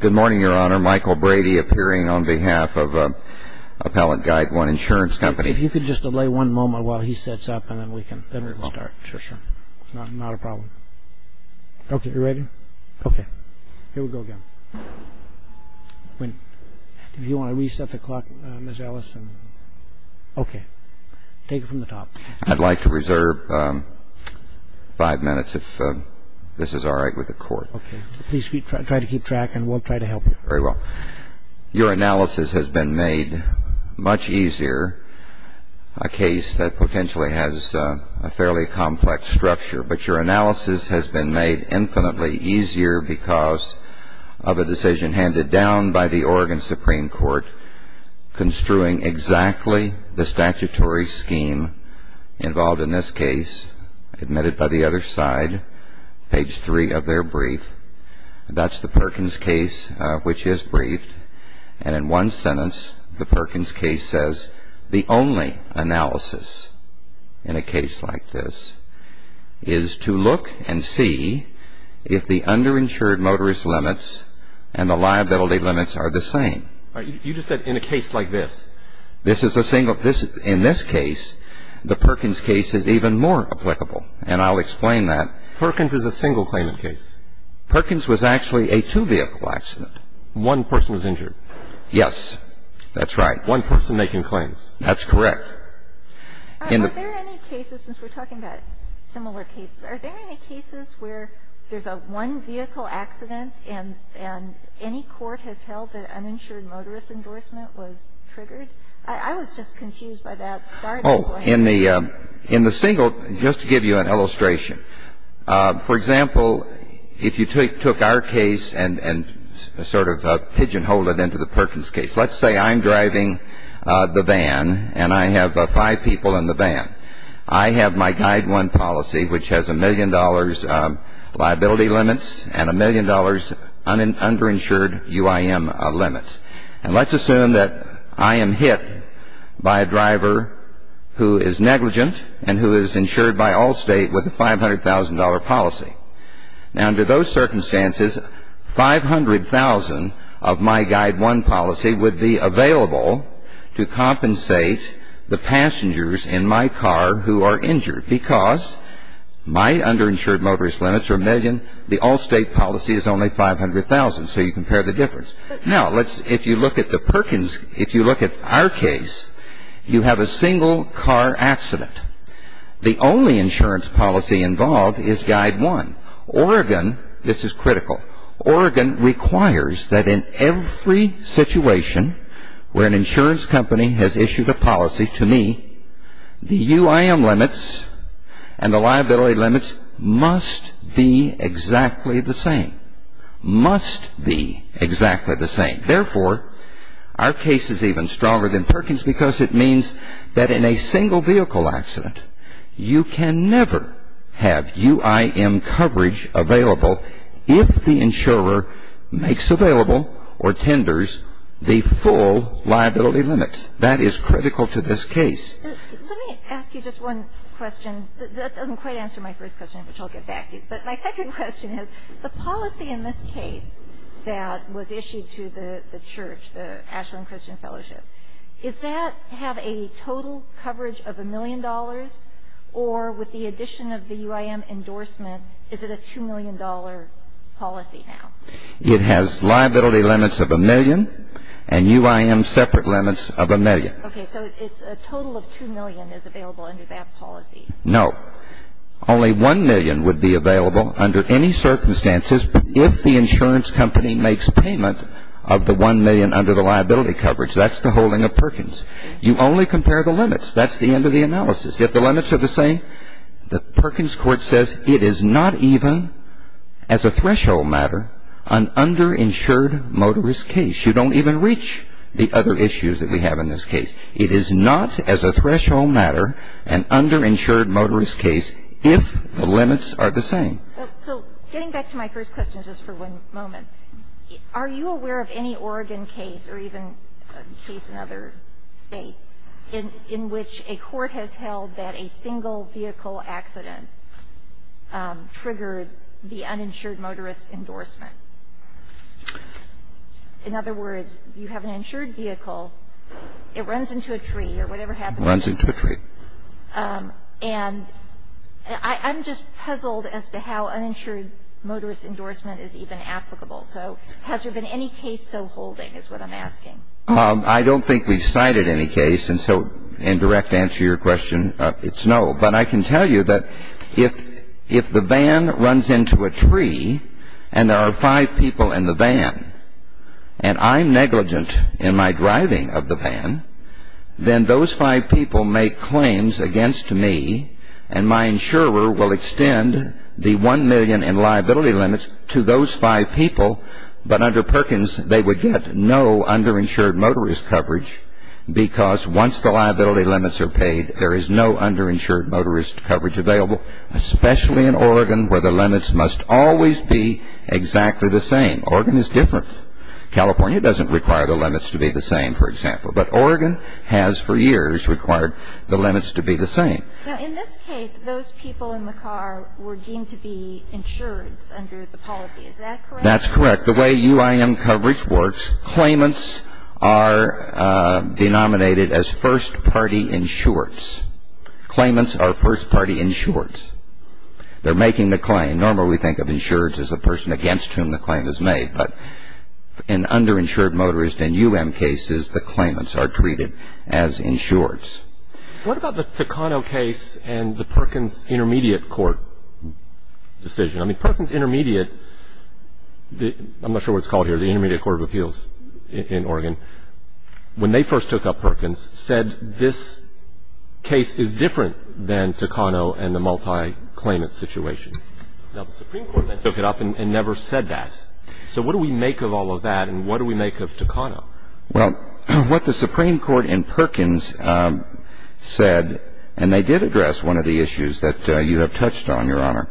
Good morning, Your Honor. Michael Brady appearing on behalf of Appellant Guideone Insurance Company. If you could just delay one moment while he sets up and then we can start. Sure, sure. It's not a problem. Okay, you ready? Okay. Here we go again. If you want to reset the clock, Ms. Ellis. Okay. Take it from the top. I'd like to reserve five minutes if this is all right with the Court. Okay. Please try to keep track and we'll try to help you. Very well. Your analysis has been made much easier, a case that potentially has a fairly complex structure. But your analysis has been made infinitely easier because of a decision handed down by the Oregon Supreme Court construing exactly the statutory scheme involved in this case, admitted by the other side, page three of their brief. That's the Perkins case, which is briefed. And in one sentence, the Perkins case says, the only analysis in a case like this is to look and see if the underinsured motorist limits and the liability limits are the same. All right. You just said in a case like this. This is a single. In this case, the Perkins case is even more applicable. And I'll explain that. Perkins is a single claimant case. Perkins was actually a two-vehicle accident. One person was injured. Yes, that's right. One person making claims. That's correct. All right. Are there any cases, since we're talking about similar cases, are there any cases where there's a one-vehicle accident and any court has held that uninsured motorist endorsement was triggered? I was just confused by that starting point. Oh, in the single, just to give you an illustration. For example, if you took our case and sort of pigeonholed it into the Perkins case, let's say I'm driving the van and I have five people in the van. I have my Guide 1 policy, which has a million dollars liability limits and a million dollars underinsured UIM limits. And let's assume that I am hit by a driver who is negligent and who is insured by Allstate with a $500,000 policy. Now, under those circumstances, $500,000 of my Guide 1 policy would be available to compensate the passengers in my car who are injured because my underinsured motorist limits are a million. The Allstate policy is only $500,000, so you compare the difference. Now, if you look at the Perkins, if you look at our case, you have a single car accident. The only insurance policy involved is Guide 1. Oregon, this is critical, Oregon requires that in every situation where an insurance company has issued a policy to me, the UIM limits and the liability limits must be exactly the same. Must be exactly the same. Therefore, our case is even stronger than Perkins because it means that in a single vehicle accident, you can never have UIM coverage available if the insurer makes available or tenders the full liability limits. That is critical to this case. Let me ask you just one question. That doesn't quite answer my first question, which I'll get back to. But my second question is the policy in this case that was issued to the church, the Ashland Christian Fellowship, does that have a total coverage of a million dollars? Or with the addition of the UIM endorsement, is it a $2 million policy now? It has liability limits of a million and UIM separate limits of a million. Okay. So it's a total of $2 million is available under that policy. No. Only $1 million would be available under any circumstances if the insurance company makes payment of the $1 million under the liability coverage. That's the holding of Perkins. You only compare the limits. That's the end of the analysis. If the limits are the same, the Perkins court says it is not even as a threshold matter an underinsured motorist case. You don't even reach the other issues that we have in this case. It is not as a threshold matter an underinsured motorist case if the limits are the same. So getting back to my first question just for one moment, are you aware of any Oregon case or even a case in other states in which a court has held that a single vehicle accident triggered the uninsured motorist endorsement? In other words, you have an insured vehicle, it runs into a tree or whatever happens. Runs into a tree. And I'm just puzzled as to how uninsured motorist endorsement is even applicable. So has there been any case so holding is what I'm asking. I don't think we've cited any case. And so in direct answer to your question, it's no. But I can tell you that if the van runs into a tree and there are five people in the van and I'm negligent in my driving of the van, then those five people make claims against me and my insurer will extend the one million in liability limits to those five people. But under Perkins, they would get no underinsured motorist coverage because once the liability limits are paid, there is no underinsured motorist coverage available, especially in Oregon where the limits must always be exactly the same. Oregon is different. California doesn't require the limits to be the same, for example. But Oregon has for years required the limits to be the same. Now, in this case, those people in the car were deemed to be insured under the policy. Is that correct? That's correct. The way UIM coverage works, claimants are denominated as first-party insureds. Claimants are first-party insureds. They're making the claim. Normally we think of insureds as a person against whom the claim is made. But in underinsured motorist and UIM cases, the claimants are treated as insureds. What about the Takano case and the Perkins Intermediate Court decision? I mean, Perkins Intermediate, I'm not sure what it's called here, the Intermediate Court of Appeals in Oregon, when they first took up Perkins, said this case is different than Takano and the multi-claimant situation. Now, the Supreme Court then took it up and never said that. So what do we make of all of that and what do we make of Takano? Well, what the Supreme Court in Perkins said, and they did address one of the issues that you have touched on, Your Honor,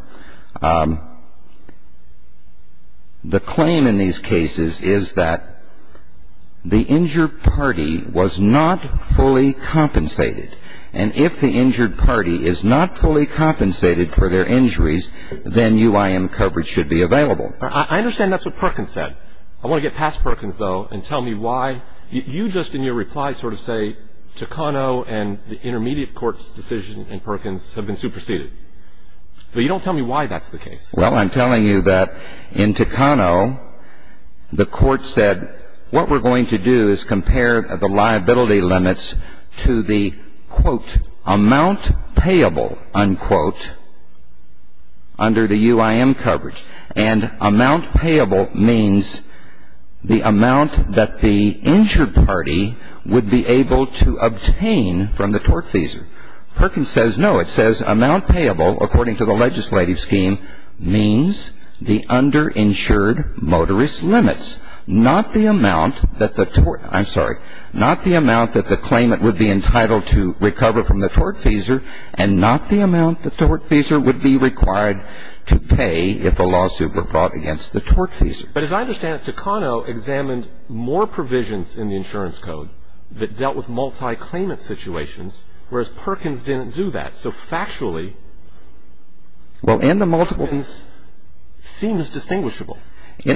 the claim in these cases is that the injured party was not fully compensated. And if the injured party is not fully compensated for their injuries, then UIM coverage should be available. I understand that's what Perkins said. I want to get past Perkins, though, and tell me why you just in your reply sort of say Takano and the Intermediate Court's decision in Perkins have been superseded. But you don't tell me why that's the case. Well, I'm telling you that in Takano, the Court said what we're going to do is compare the liability limits to the, quote, amount payable, unquote, under the UIM coverage. And amount payable means the amount that the injured party would be able to obtain from the tortfeasor. Perkins says no. It says amount payable, according to the legislative scheme, means the underinsured motorist limits, not the amount that the tort, I'm sorry, not the amount that the claimant would be entitled to recover from the tortfeasor and not the amount the tortfeasor would be required to pay if the lawsuit were brought against the tortfeasor. But as I understand it, Takano examined more provisions in the insurance code that dealt with multi-claimant situations, whereas Perkins didn't do that. So factually, well, in the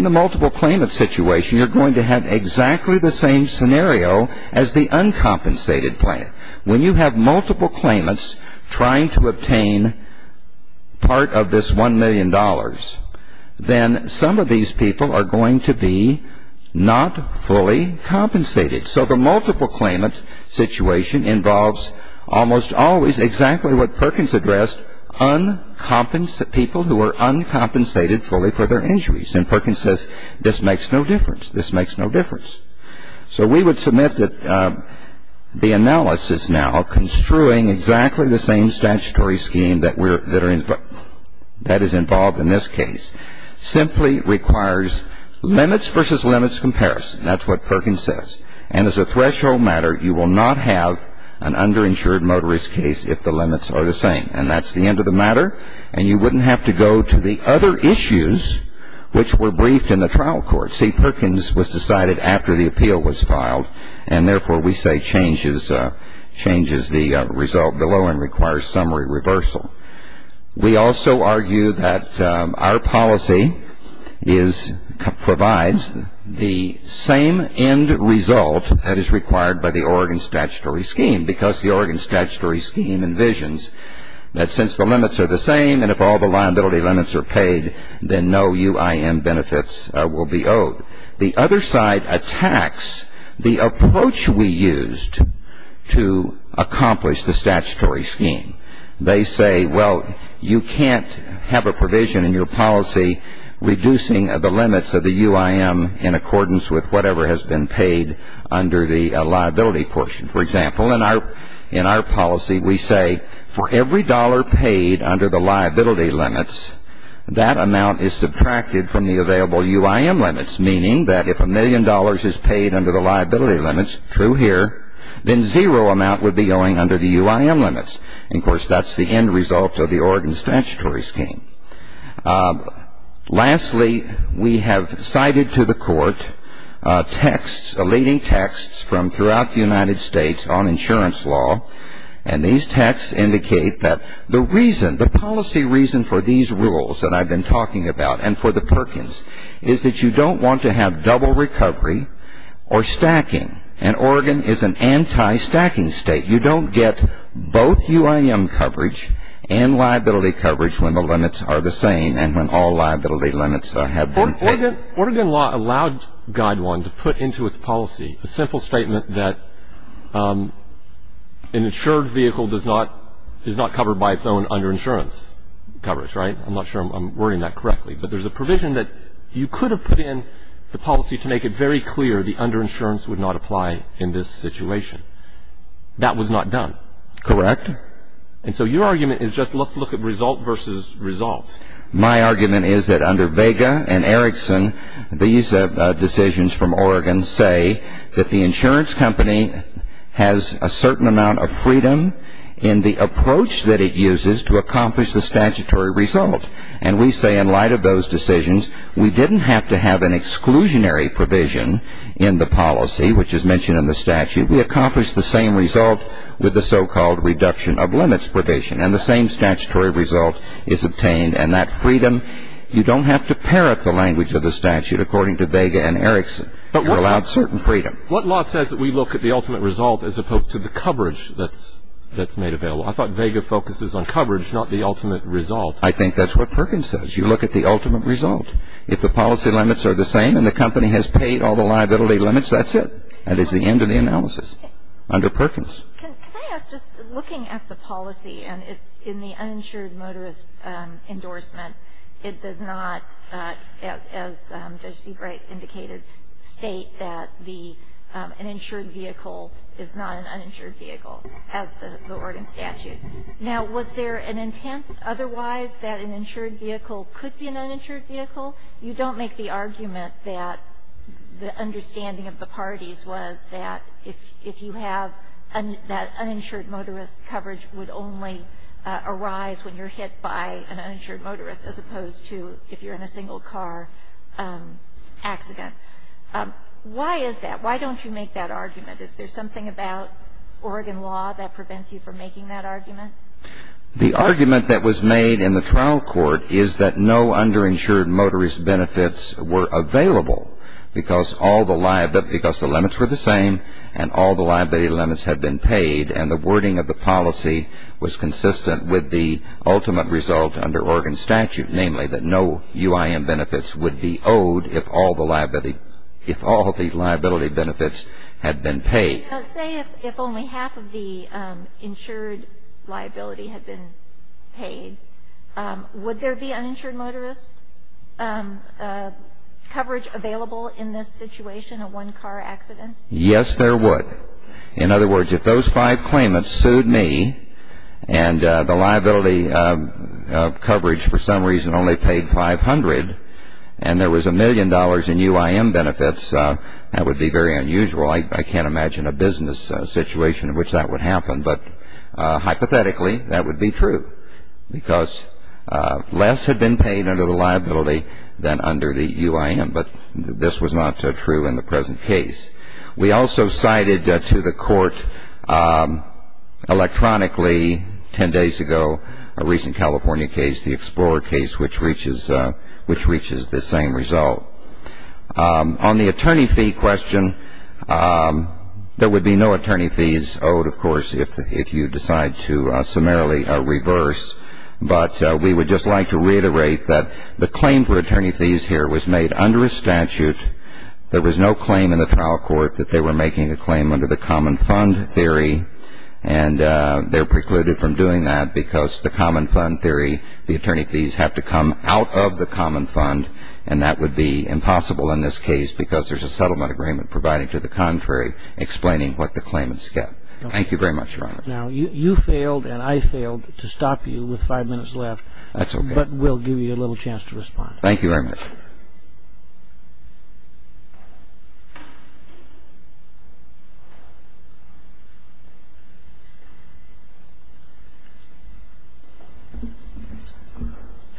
multi-claimant situation, you're going to have exactly the same scenario as the uncompensated plan. When you have multiple claimants trying to obtain part of this $1 million, then some of these people are going to be not fully compensated. So the multiple claimant situation involves almost always exactly what Perkins addressed, people who are uncompensated fully for their injuries. And Perkins says this makes no difference. This makes no difference. So we would submit that the analysis now of construing exactly the same statutory scheme that is involved in this case simply requires limits versus limits comparison. That's what Perkins says. And as a threshold matter, you will not have an underinsured motorist case if the limits are the same. And that's the end of the matter. And you wouldn't have to go to the other issues which were briefed in the trial court. See, Perkins was decided after the appeal was filed, and therefore we say changes the result below and requires summary reversal. We also argue that our policy provides the same end result that is required by the Oregon statutory scheme, because the Oregon statutory scheme envisions that since the limits are the same and if all the liability limits are paid, then no UIM benefits will be owed. The other side attacks the approach we used to accomplish the statutory scheme. They say, well, you can't have a provision in your policy reducing the limits of the UIM in accordance with whatever has been paid under the liability portion. For example, in our policy we say for every dollar paid under the liability limits, that amount is subtracted from the available UIM limits, meaning that if a million dollars is paid under the liability limits, true here, then zero amount would be owing under the UIM limits. And, of course, that's the end result of the Oregon statutory scheme. Lastly, we have cited to the court texts, elating texts, from throughout the United States on insurance law. And these texts indicate that the reason, the policy reason for these rules that I've been talking about and for the Perkins is that you don't want to have double recovery or stacking. And Oregon is an anti-stacking state. You don't get both UIM coverage and liability coverage when the limits are the same and when all liability limits have been paid. Oregon law allowed Guide 1 to put into its policy a simple statement that an insured vehicle does not, is not covered by its own under insurance coverage, right? I'm not sure I'm wording that correctly. But there's a provision that you could have put in the policy to make it very clear the under insurance would not apply in this situation. That was not done. Correct. And so your argument is just let's look at result versus result. My argument is that under Vega and Erickson, these decisions from Oregon say that the insurance company has a certain amount of freedom in the approach that it uses to accomplish the statutory result. And we say in light of those decisions, we didn't have to have an exclusionary provision in the policy, which is mentioned in the statute. We accomplished the same result with the so-called reduction of limits provision. And the same statutory result is obtained. And that freedom, you don't have to parrot the language of the statute according to Vega and Erickson. You're allowed certain freedom. What law says that we look at the ultimate result as opposed to the coverage that's made available? I thought Vega focuses on coverage, not the ultimate result. I think that's what Perkins says. You look at the ultimate result. If the policy limits are the same and the company has paid all the liability limits, that's it. That is the end of the analysis under Perkins. Can I ask, just looking at the policy and in the uninsured motorist endorsement, it does not, as Judge Seabright indicated, state that an insured vehicle is not an uninsured vehicle as the Oregon statute. Now, was there an intent otherwise that an insured vehicle could be an uninsured vehicle? You don't make the argument that the understanding of the parties was that if you have that uninsured motorist coverage would only arise when you're hit by an uninsured motorist as opposed to if you're in a single car accident. Why is that? Why don't you make that argument? Is there something about Oregon law that prevents you from making that argument? The argument that was made in the trial court is that no underinsured motorist benefits were available because the limits were the same and all the liability limits had been paid and the wording of the policy was consistent with the ultimate result under Oregon statute, namely that no UIM benefits would be owed if all the liability benefits had been paid. Say if only half of the insured liability had been paid, would there be uninsured motorist coverage available in this situation, a one-car accident? Yes, there would. In other words, if those five claimants sued me and the liability coverage for some reason only paid 500 and there was a million dollars in UIM benefits, that would be very unusual. I can't imagine a business situation in which that would happen, but hypothetically that would be true because less had been paid under the liability than under the UIM, but this was not true in the present case. We also cited to the court electronically 10 days ago a recent California case, the Explorer case, which reaches the same result. On the attorney fee question, there would be no attorney fees owed, of course, if you decide to summarily reverse, but we would just like to reiterate that the claim for attorney fees here was made under a statute. There was no claim in the trial court that they were making a claim under the common fund theory and they're precluded from doing that because the common fund theory, the attorney fees have to come out of the common fund and that would be impossible in this case because there's a settlement agreement provided to the contrary explaining what the claimants get. Thank you very much, Your Honor. Now, you failed and I failed to stop you with five minutes left. That's okay. But we'll give you a little chance to respond. Thank you very much.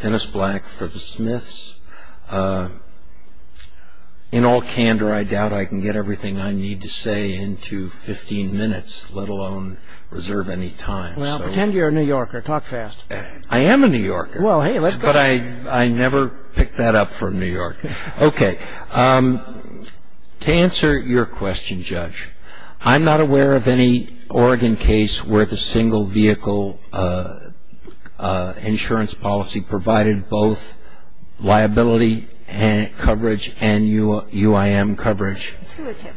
Dennis Black for the Smiths. In all candor, I doubt I can get everything I need to say into 15 minutes, let alone reserve any time. Well, pretend you're a New Yorker. Talk fast. I am a New Yorker. Well, hey, let's go. But I never picked that up from New York. Okay. To answer your question, Judge, I'm not aware of any Oregon case where the single vehicle insurance policy provided both liability coverage and UIM coverage.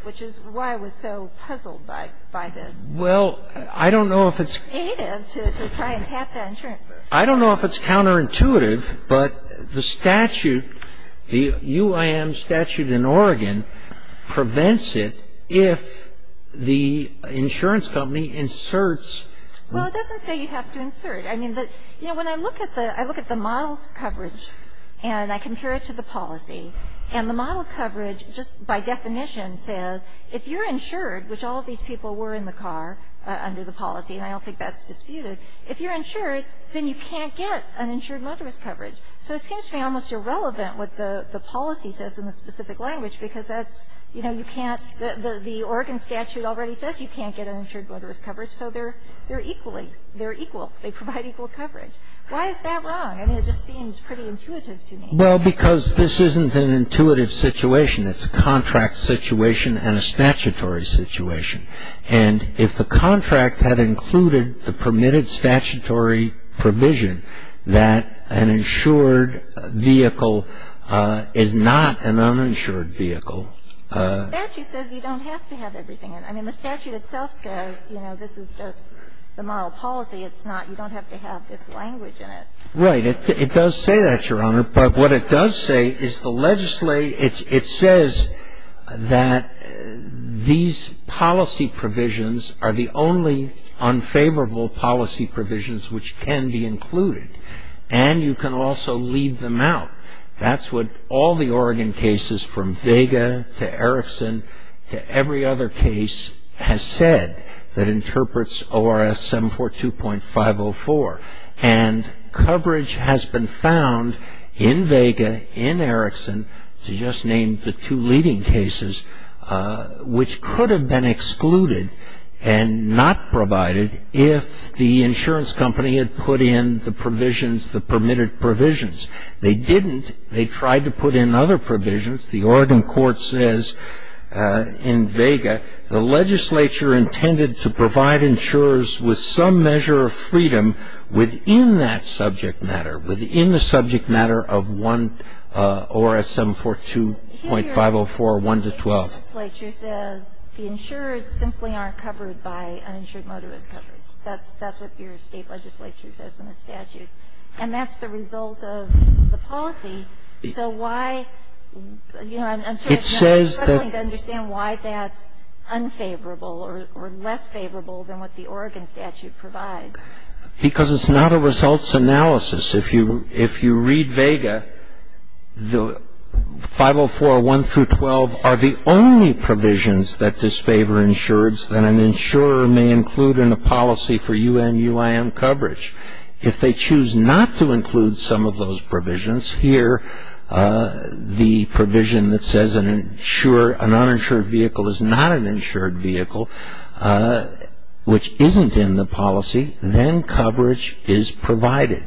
Which is why I was so puzzled by this. Well, I don't know if it's counterintuitive. But the statute, the UIM statute in Oregon prevents it if the insurance company inserts. Well, it doesn't say you have to insert. I mean, you know, when I look at the model's coverage and I compare it to the policy, and the model coverage just by definition says if you're insured, which all of these people were in the car under the policy, and I don't think that's disputed, if you're insured, then you can't get an insured motorist coverage. So it seems to me almost irrelevant what the policy says in the specific language, because that's, you know, you can't, the Oregon statute already says you can't get an insured motorist coverage. So they're equally, they're equal. They provide equal coverage. Why is that wrong? I mean, it just seems pretty intuitive to me. Well, because this isn't an intuitive situation. It's a contract situation and a statutory situation. And if the contract had included the permitted statutory provision that an insured vehicle is not an uninsured vehicle. The statute says you don't have to have everything in it. I mean, the statute itself says, you know, this is just the moral policy. It's not, you don't have to have this language in it. Right. It does say that, Your Honor. But what it does say is the, it says that these policy provisions are the only unfavorable policy provisions which can be included. And you can also leave them out. That's what all the Oregon cases from Vega to Erickson to every other case has said that interprets ORS 742.504. And coverage has been found in Vega, in Erickson, to just name the two leading cases, which could have been excluded and not provided if the insurance company had put in the provisions, the permitted provisions. They didn't. They tried to put in other provisions. The Oregon court says in Vega the legislature intended to provide insurers with some measure of freedom within that subject matter, within the subject matter of ORS 742.504.1 to 12. The state legislature says the insurers simply aren't covered by uninsured motorist coverage. That's what your state legislature says in the statute. And that's the result of the policy. So why, you know, I'm struggling to understand why that's unfavorable or less favorable than what the Oregon statute provides. Because it's not a results analysis. If you read Vega, the 504.1 through 12 are the only provisions that disfavor insurers that an insurer may include in a policy for UN UIM coverage. If they choose not to include some of those provisions, here the provision that says an uninsured vehicle is not an insured vehicle, which isn't in the policy, then coverage is provided.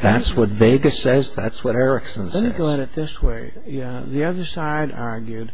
That's what Vega says. That's what Erickson says. Let me go at it this way. The other side argued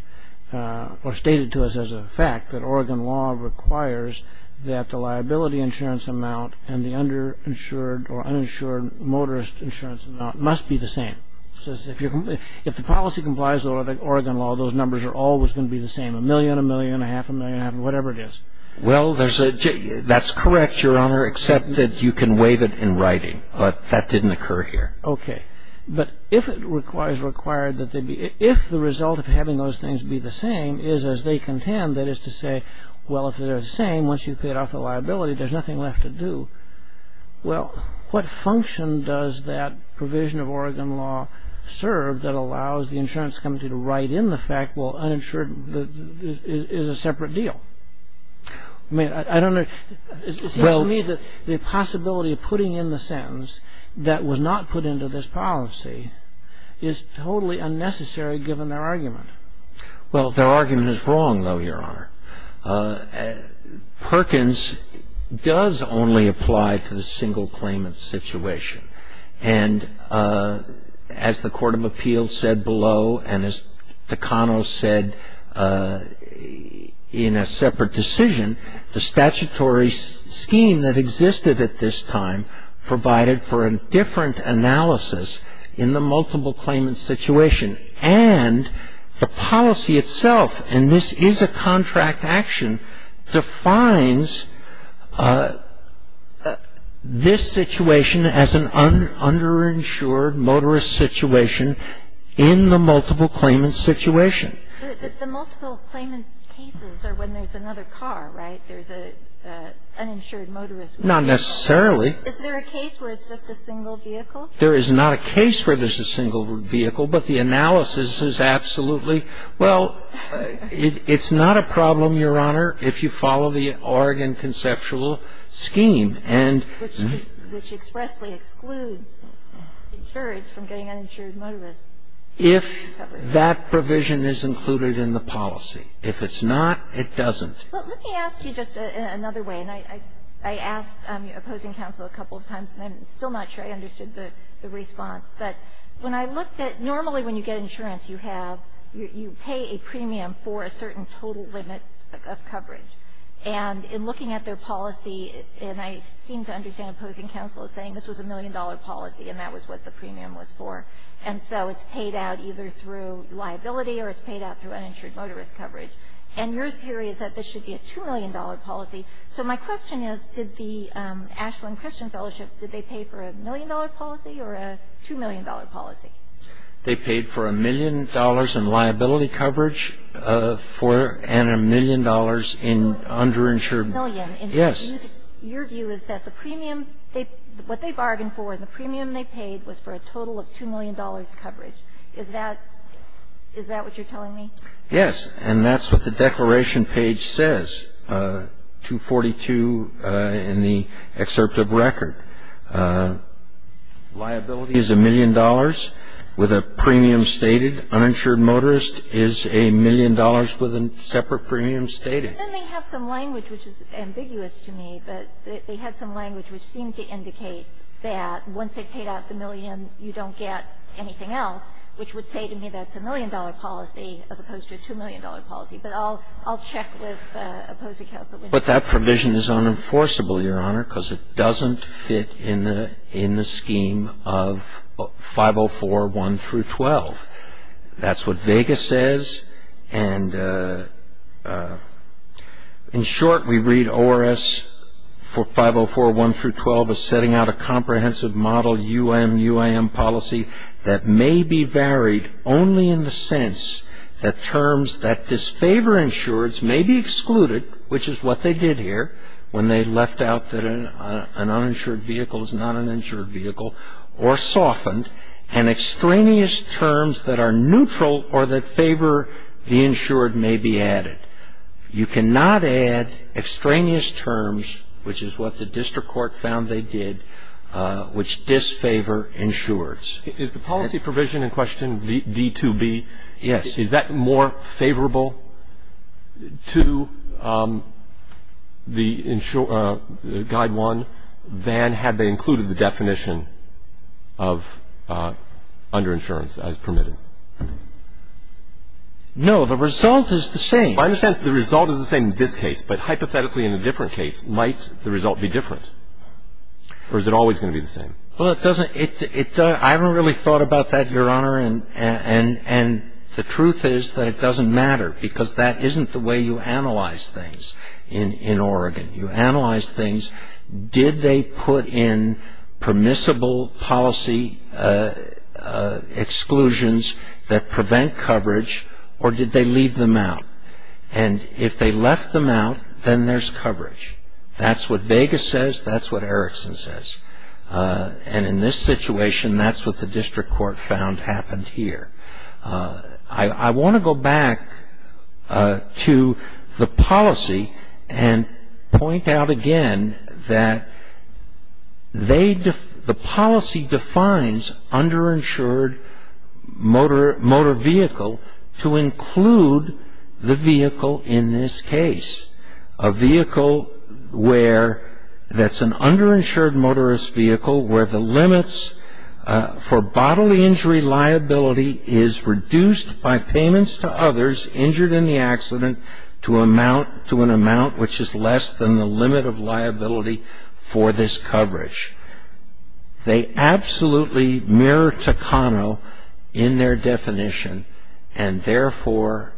or stated to us as a fact that Oregon law requires that the liability insurance amount and the underinsured or uninsured motorist insurance amount must be the same. It says if the policy complies with Oregon law, those numbers are always going to be the same, a million, a million, a half a million, whatever it is. Well, that's correct, Your Honor, except that you can waive it in writing. But that didn't occur here. Okay. But if the result of having those things be the same is as they contend, that is to say, well, if they're the same, once you've paid off the liability, there's nothing left to do, well, what function does that provision of Oregon law serve that allows the insurance company to write in the fact, well, uninsured is a separate deal? I mean, I don't know. It seems to me that the possibility of putting in the sentence that was not put into this policy is totally unnecessary, given their argument. Well, their argument is wrong, though, Your Honor. Perkins does only apply to the single claimant situation. And as the Court of Appeals said below, and as Takano said in a separate decision, the statutory scheme that existed at this time provided for a different analysis in the multiple claimant situation. And the policy itself, and this is a contract action, defines this situation as an underinsured motorist situation in the multiple claimant situation. The multiple claimant cases are when there's another car, right? There's an uninsured motorist. Not necessarily. Is there a case where it's just a single vehicle? There is not a case where there's a single vehicle, but the analysis is absolutely, well, it's not a problem, Your Honor, if you follow the Oregon conceptual scheme. Which expressly excludes insurers from getting uninsured motorists. If that provision is included in the policy. If it's not, it doesn't. Well, let me ask you just another way. And I asked opposing counsel a couple of times, and I'm still not sure I understood the response. But when I looked at, normally when you get insurance, you have, you pay a premium for a certain total limit of coverage. And in looking at their policy, and I seem to understand opposing counsel as saying this was a million-dollar policy and that was what the premium was for. And so it's paid out either through liability or it's paid out through uninsured motorist coverage. And your theory is that this should be a $2 million policy. So my question is, did the Ashland Christian Fellowship, did they pay for a million-dollar policy or a $2 million policy? They paid for a million dollars in liability coverage and a million dollars in underinsured. A million. Yes. Your view is that the premium, what they bargained for, the premium they paid was for a total of $2 million coverage. Is that what you're telling me? Yes. And that's what the declaration page says, 242 in the excerpt of record. Liability is a million dollars with a premium stated. Uninsured motorist is a million dollars with a separate premium stated. And then they have some language which is ambiguous to me, but they had some language which seemed to indicate that once they paid out the million, you don't get anything else, which would say to me that's a million-dollar policy as opposed to a $2 million policy. But I'll check with opposing counsel. But that provision is unenforceable, Your Honor, because it doesn't fit in the scheme of 504.1 through 12. That's what Vega says. And in short, we read ORS 504.1 through 12 as setting out a comprehensive model, UM-UIM policy that may be varied only in the sense that terms that disfavor insureds may be excluded, which is what they did here when they left out that an uninsured vehicle is not an insured vehicle, or softened, and extraneous terms that are neutral or that favor the insured may be added. You cannot add extraneous terms, which is what the district court found they did, which disfavor insureds. Is the policy provision in question, D2B, is that more favorable to the guide one than had they included the definition of underinsurance as permitted? No. The result is the same. I understand the result is the same in this case, but hypothetically in a different case, might the result be different? Or is it always going to be the same? Well, I haven't really thought about that, Your Honor, and the truth is that it doesn't matter because that isn't the way you analyze things in Oregon. You analyze things, did they put in permissible policy exclusions that prevent coverage, or did they leave them out? And if they left them out, then there's coverage. That's what Vegas says, that's what Erickson says. And in this situation, that's what the district court found happened here. I want to go back to the policy and point out again that the policy defines underinsured motor vehicle to include the vehicle in this case. A vehicle where that's an underinsured motorist vehicle where the limits for bodily injury liability is reduced by payments to others injured in the accident to an amount which is less than the limit of liability for this coverage. They absolutely mirror Takano in their definition, and therefore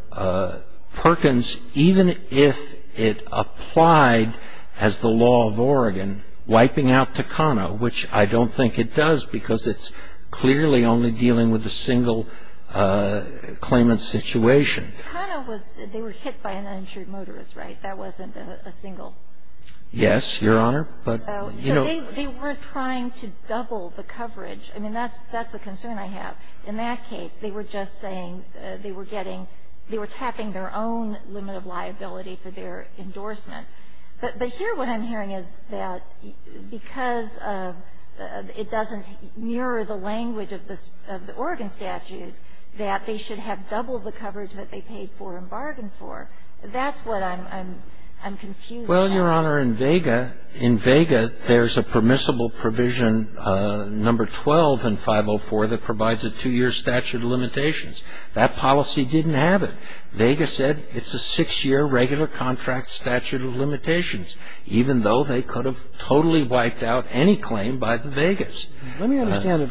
Perkins, even if it applied as the law of Oregon, wiping out Takano, which I don't think it does because it's clearly only dealing with a single claimant situation. Takano was, they were hit by an uninsured motorist, right? That wasn't a single? Yes, Your Honor. So they weren't trying to double the coverage. I mean, that's a concern I have. In that case, they were just saying they were getting, they were tapping their own limit of liability for their endorsement. But here what I'm hearing is that because it doesn't mirror the language of the Oregon statute, that they should have double the coverage that they paid for and bargained That's what I'm confused about. Well, Your Honor, in Vega, in Vega, there's a permissible provision number 12 in 504 that provides a two-year statute of limitations. That policy didn't have it. Vega said it's a six-year regular contract statute of limitations, even though they could have totally wiped out any claim by the Vegas. Let me understand.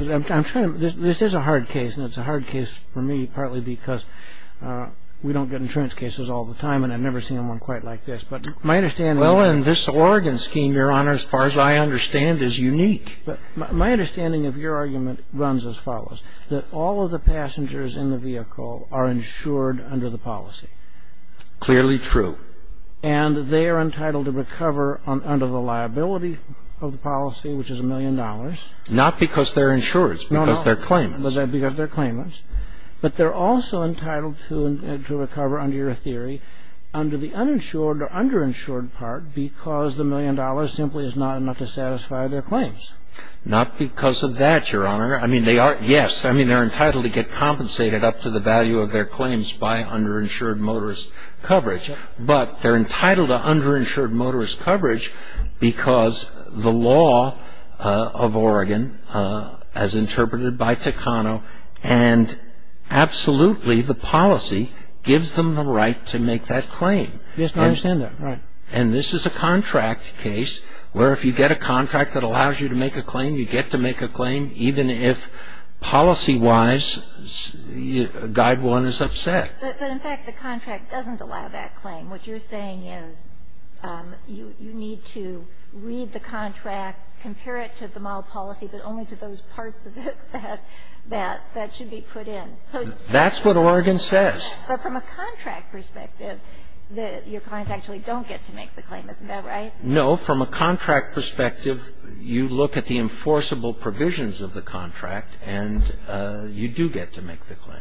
This is a hard case, and it's a hard case for me partly because we don't get insurance cases all the time, and I've never seen one quite like this. But my understanding is Well, in this Oregon scheme, Your Honor, as far as I understand, is unique. But my understanding of your argument runs as follows, that all of the passengers in the vehicle are insured under the policy. Clearly true. And they are entitled to recover under the liability of the policy, which is a million dollars. Not because they're insured. It's because they're claimants. No, no. Because they're claimants. But they're also entitled to recover under your theory under the uninsured or underinsured part because the million dollars simply is not enough to satisfy their claims. Not because of that, Your Honor. I mean, they are yes. I mean, they're entitled to get compensated up to the value of their claims by underinsured motorist coverage. But they're entitled to underinsured motorist coverage because the law of Oregon, as interpreted by Takano, and absolutely the policy gives them the right to make that claim. Yes, I understand that. Right. And this is a contract case where if you get a contract that allows you to make a claim, you get to make a claim, even if policy-wise, Guide 1 is upset. But in fact, the contract doesn't allow that claim. What you're saying is you need to read the contract, compare it to the model policy, but only to those parts of it that should be put in. That's what Oregon says. But from a contract perspective, your clients actually don't get to make the claim. Isn't that right? No. From a contract perspective, you look at the enforceable provisions of the contract and you do get to make the claim.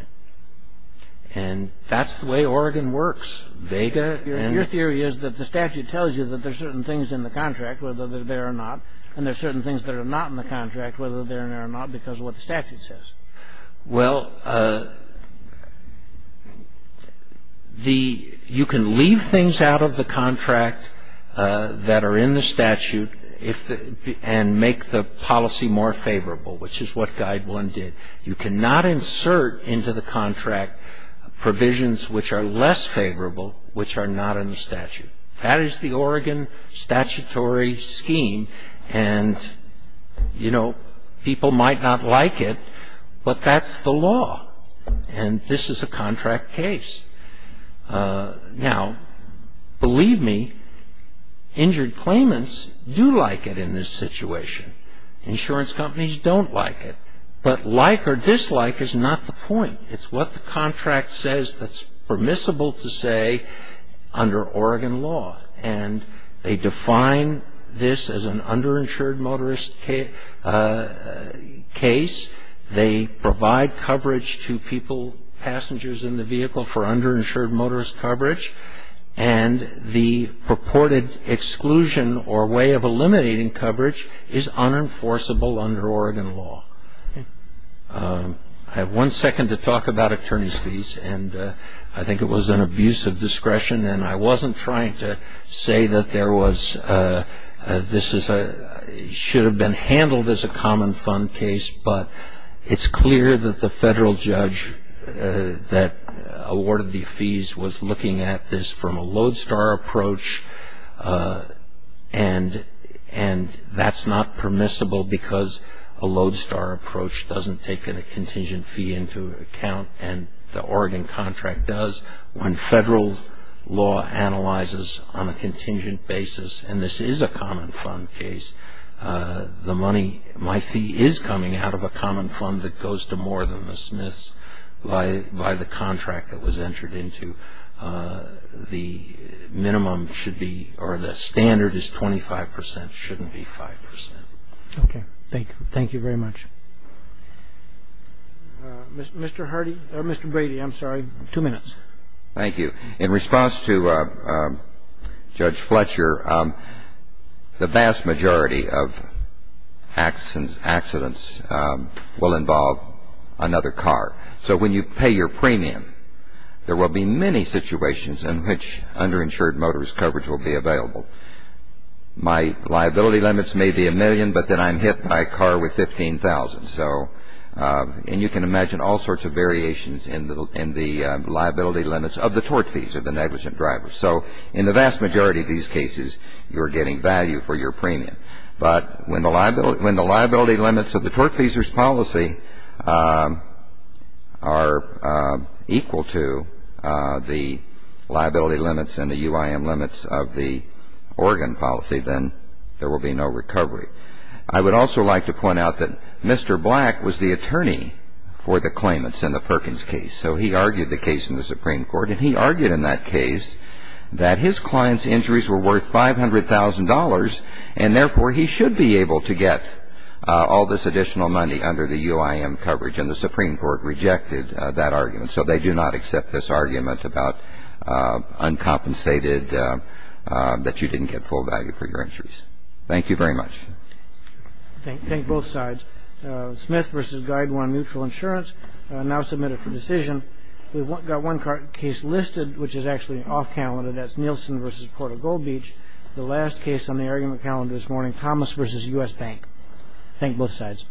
And that's the way Oregon works. Your theory is that the statute tells you that there are certain things in the contract, whether they're there or not, and there are certain things that are not in the contract, whether they're there or not, because of what the statute says. Well, the ‑‑ you can leave things out of the contract that are in the statute and make the policy more favorable, which is what Guide 1 did. You cannot insert into the contract provisions which are less favorable, which are not in the statute. That is the Oregon statutory scheme. And, you know, people might not like it, but that's the law. And this is a contract case. Now, believe me, injured claimants do like it in this situation. Insurance companies don't like it. But like or dislike is not the point. It's what the contract says that's permissible to say under Oregon law. And they define this as an underinsured motorist case. They provide coverage to people, passengers in the vehicle, for underinsured motorist coverage. And the purported exclusion or way of eliminating coverage is unenforceable under Oregon law. I have one second to talk about attorney's fees. And I think it was an abuse of discretion. And I wasn't trying to say that there was ‑‑ this should have been handled as a common fund case. But it's clear that the federal judge that awarded the fees was looking at this from a lodestar approach. And that's not permissible because a lodestar approach doesn't take a contingent fee into account. And the Oregon contract does. When federal law analyzes on a contingent basis, and this is a common fund case, my fee is coming out of a common fund that goes to more than the Smiths by the contract that was entered into. The minimum should be ‑‑ or the standard is 25 percent. It shouldn't be 5 percent. Okay. Thank you. Thank you very much. Mr. Hardy ‑‑ Mr. Brady, I'm sorry. Two minutes. Thank you. In response to Judge Fletcher, the vast majority of accidents will involve another car. So when you pay your premium, there will be many situations in which underinsured motorist coverage will be available. My liability limits may be a million, but then I'm hit by a car with 15,000. And you can imagine all sorts of variations in the liability limits of the tort fees of the negligent driver. So in the vast majority of these cases, you're getting value for your premium. But when the liability limits of the tort fees policy are equal to the liability limits and the UIM limits of the Oregon policy, then there will be no recovery. I would also like to point out that Mr. Black was the attorney for the claimants in the Perkins case. So he argued the case in the Supreme Court, and he argued in that case that his client's injuries were worth $500,000 and therefore he should be able to get all this additional money under the UIM coverage. And the Supreme Court rejected that argument. So they do not accept this argument about uncompensated, that you didn't get full value for your injuries. Thank you very much. Thank both sides. Smith v. Guidewine Mutual Insurance, now submitted for decision. We've got one case listed, which is actually off-calendar. That's Nielsen v. Port of Gold Beach. The last case on the argument calendar this morning, Thomas v. U.S. Bank. Thank both sides.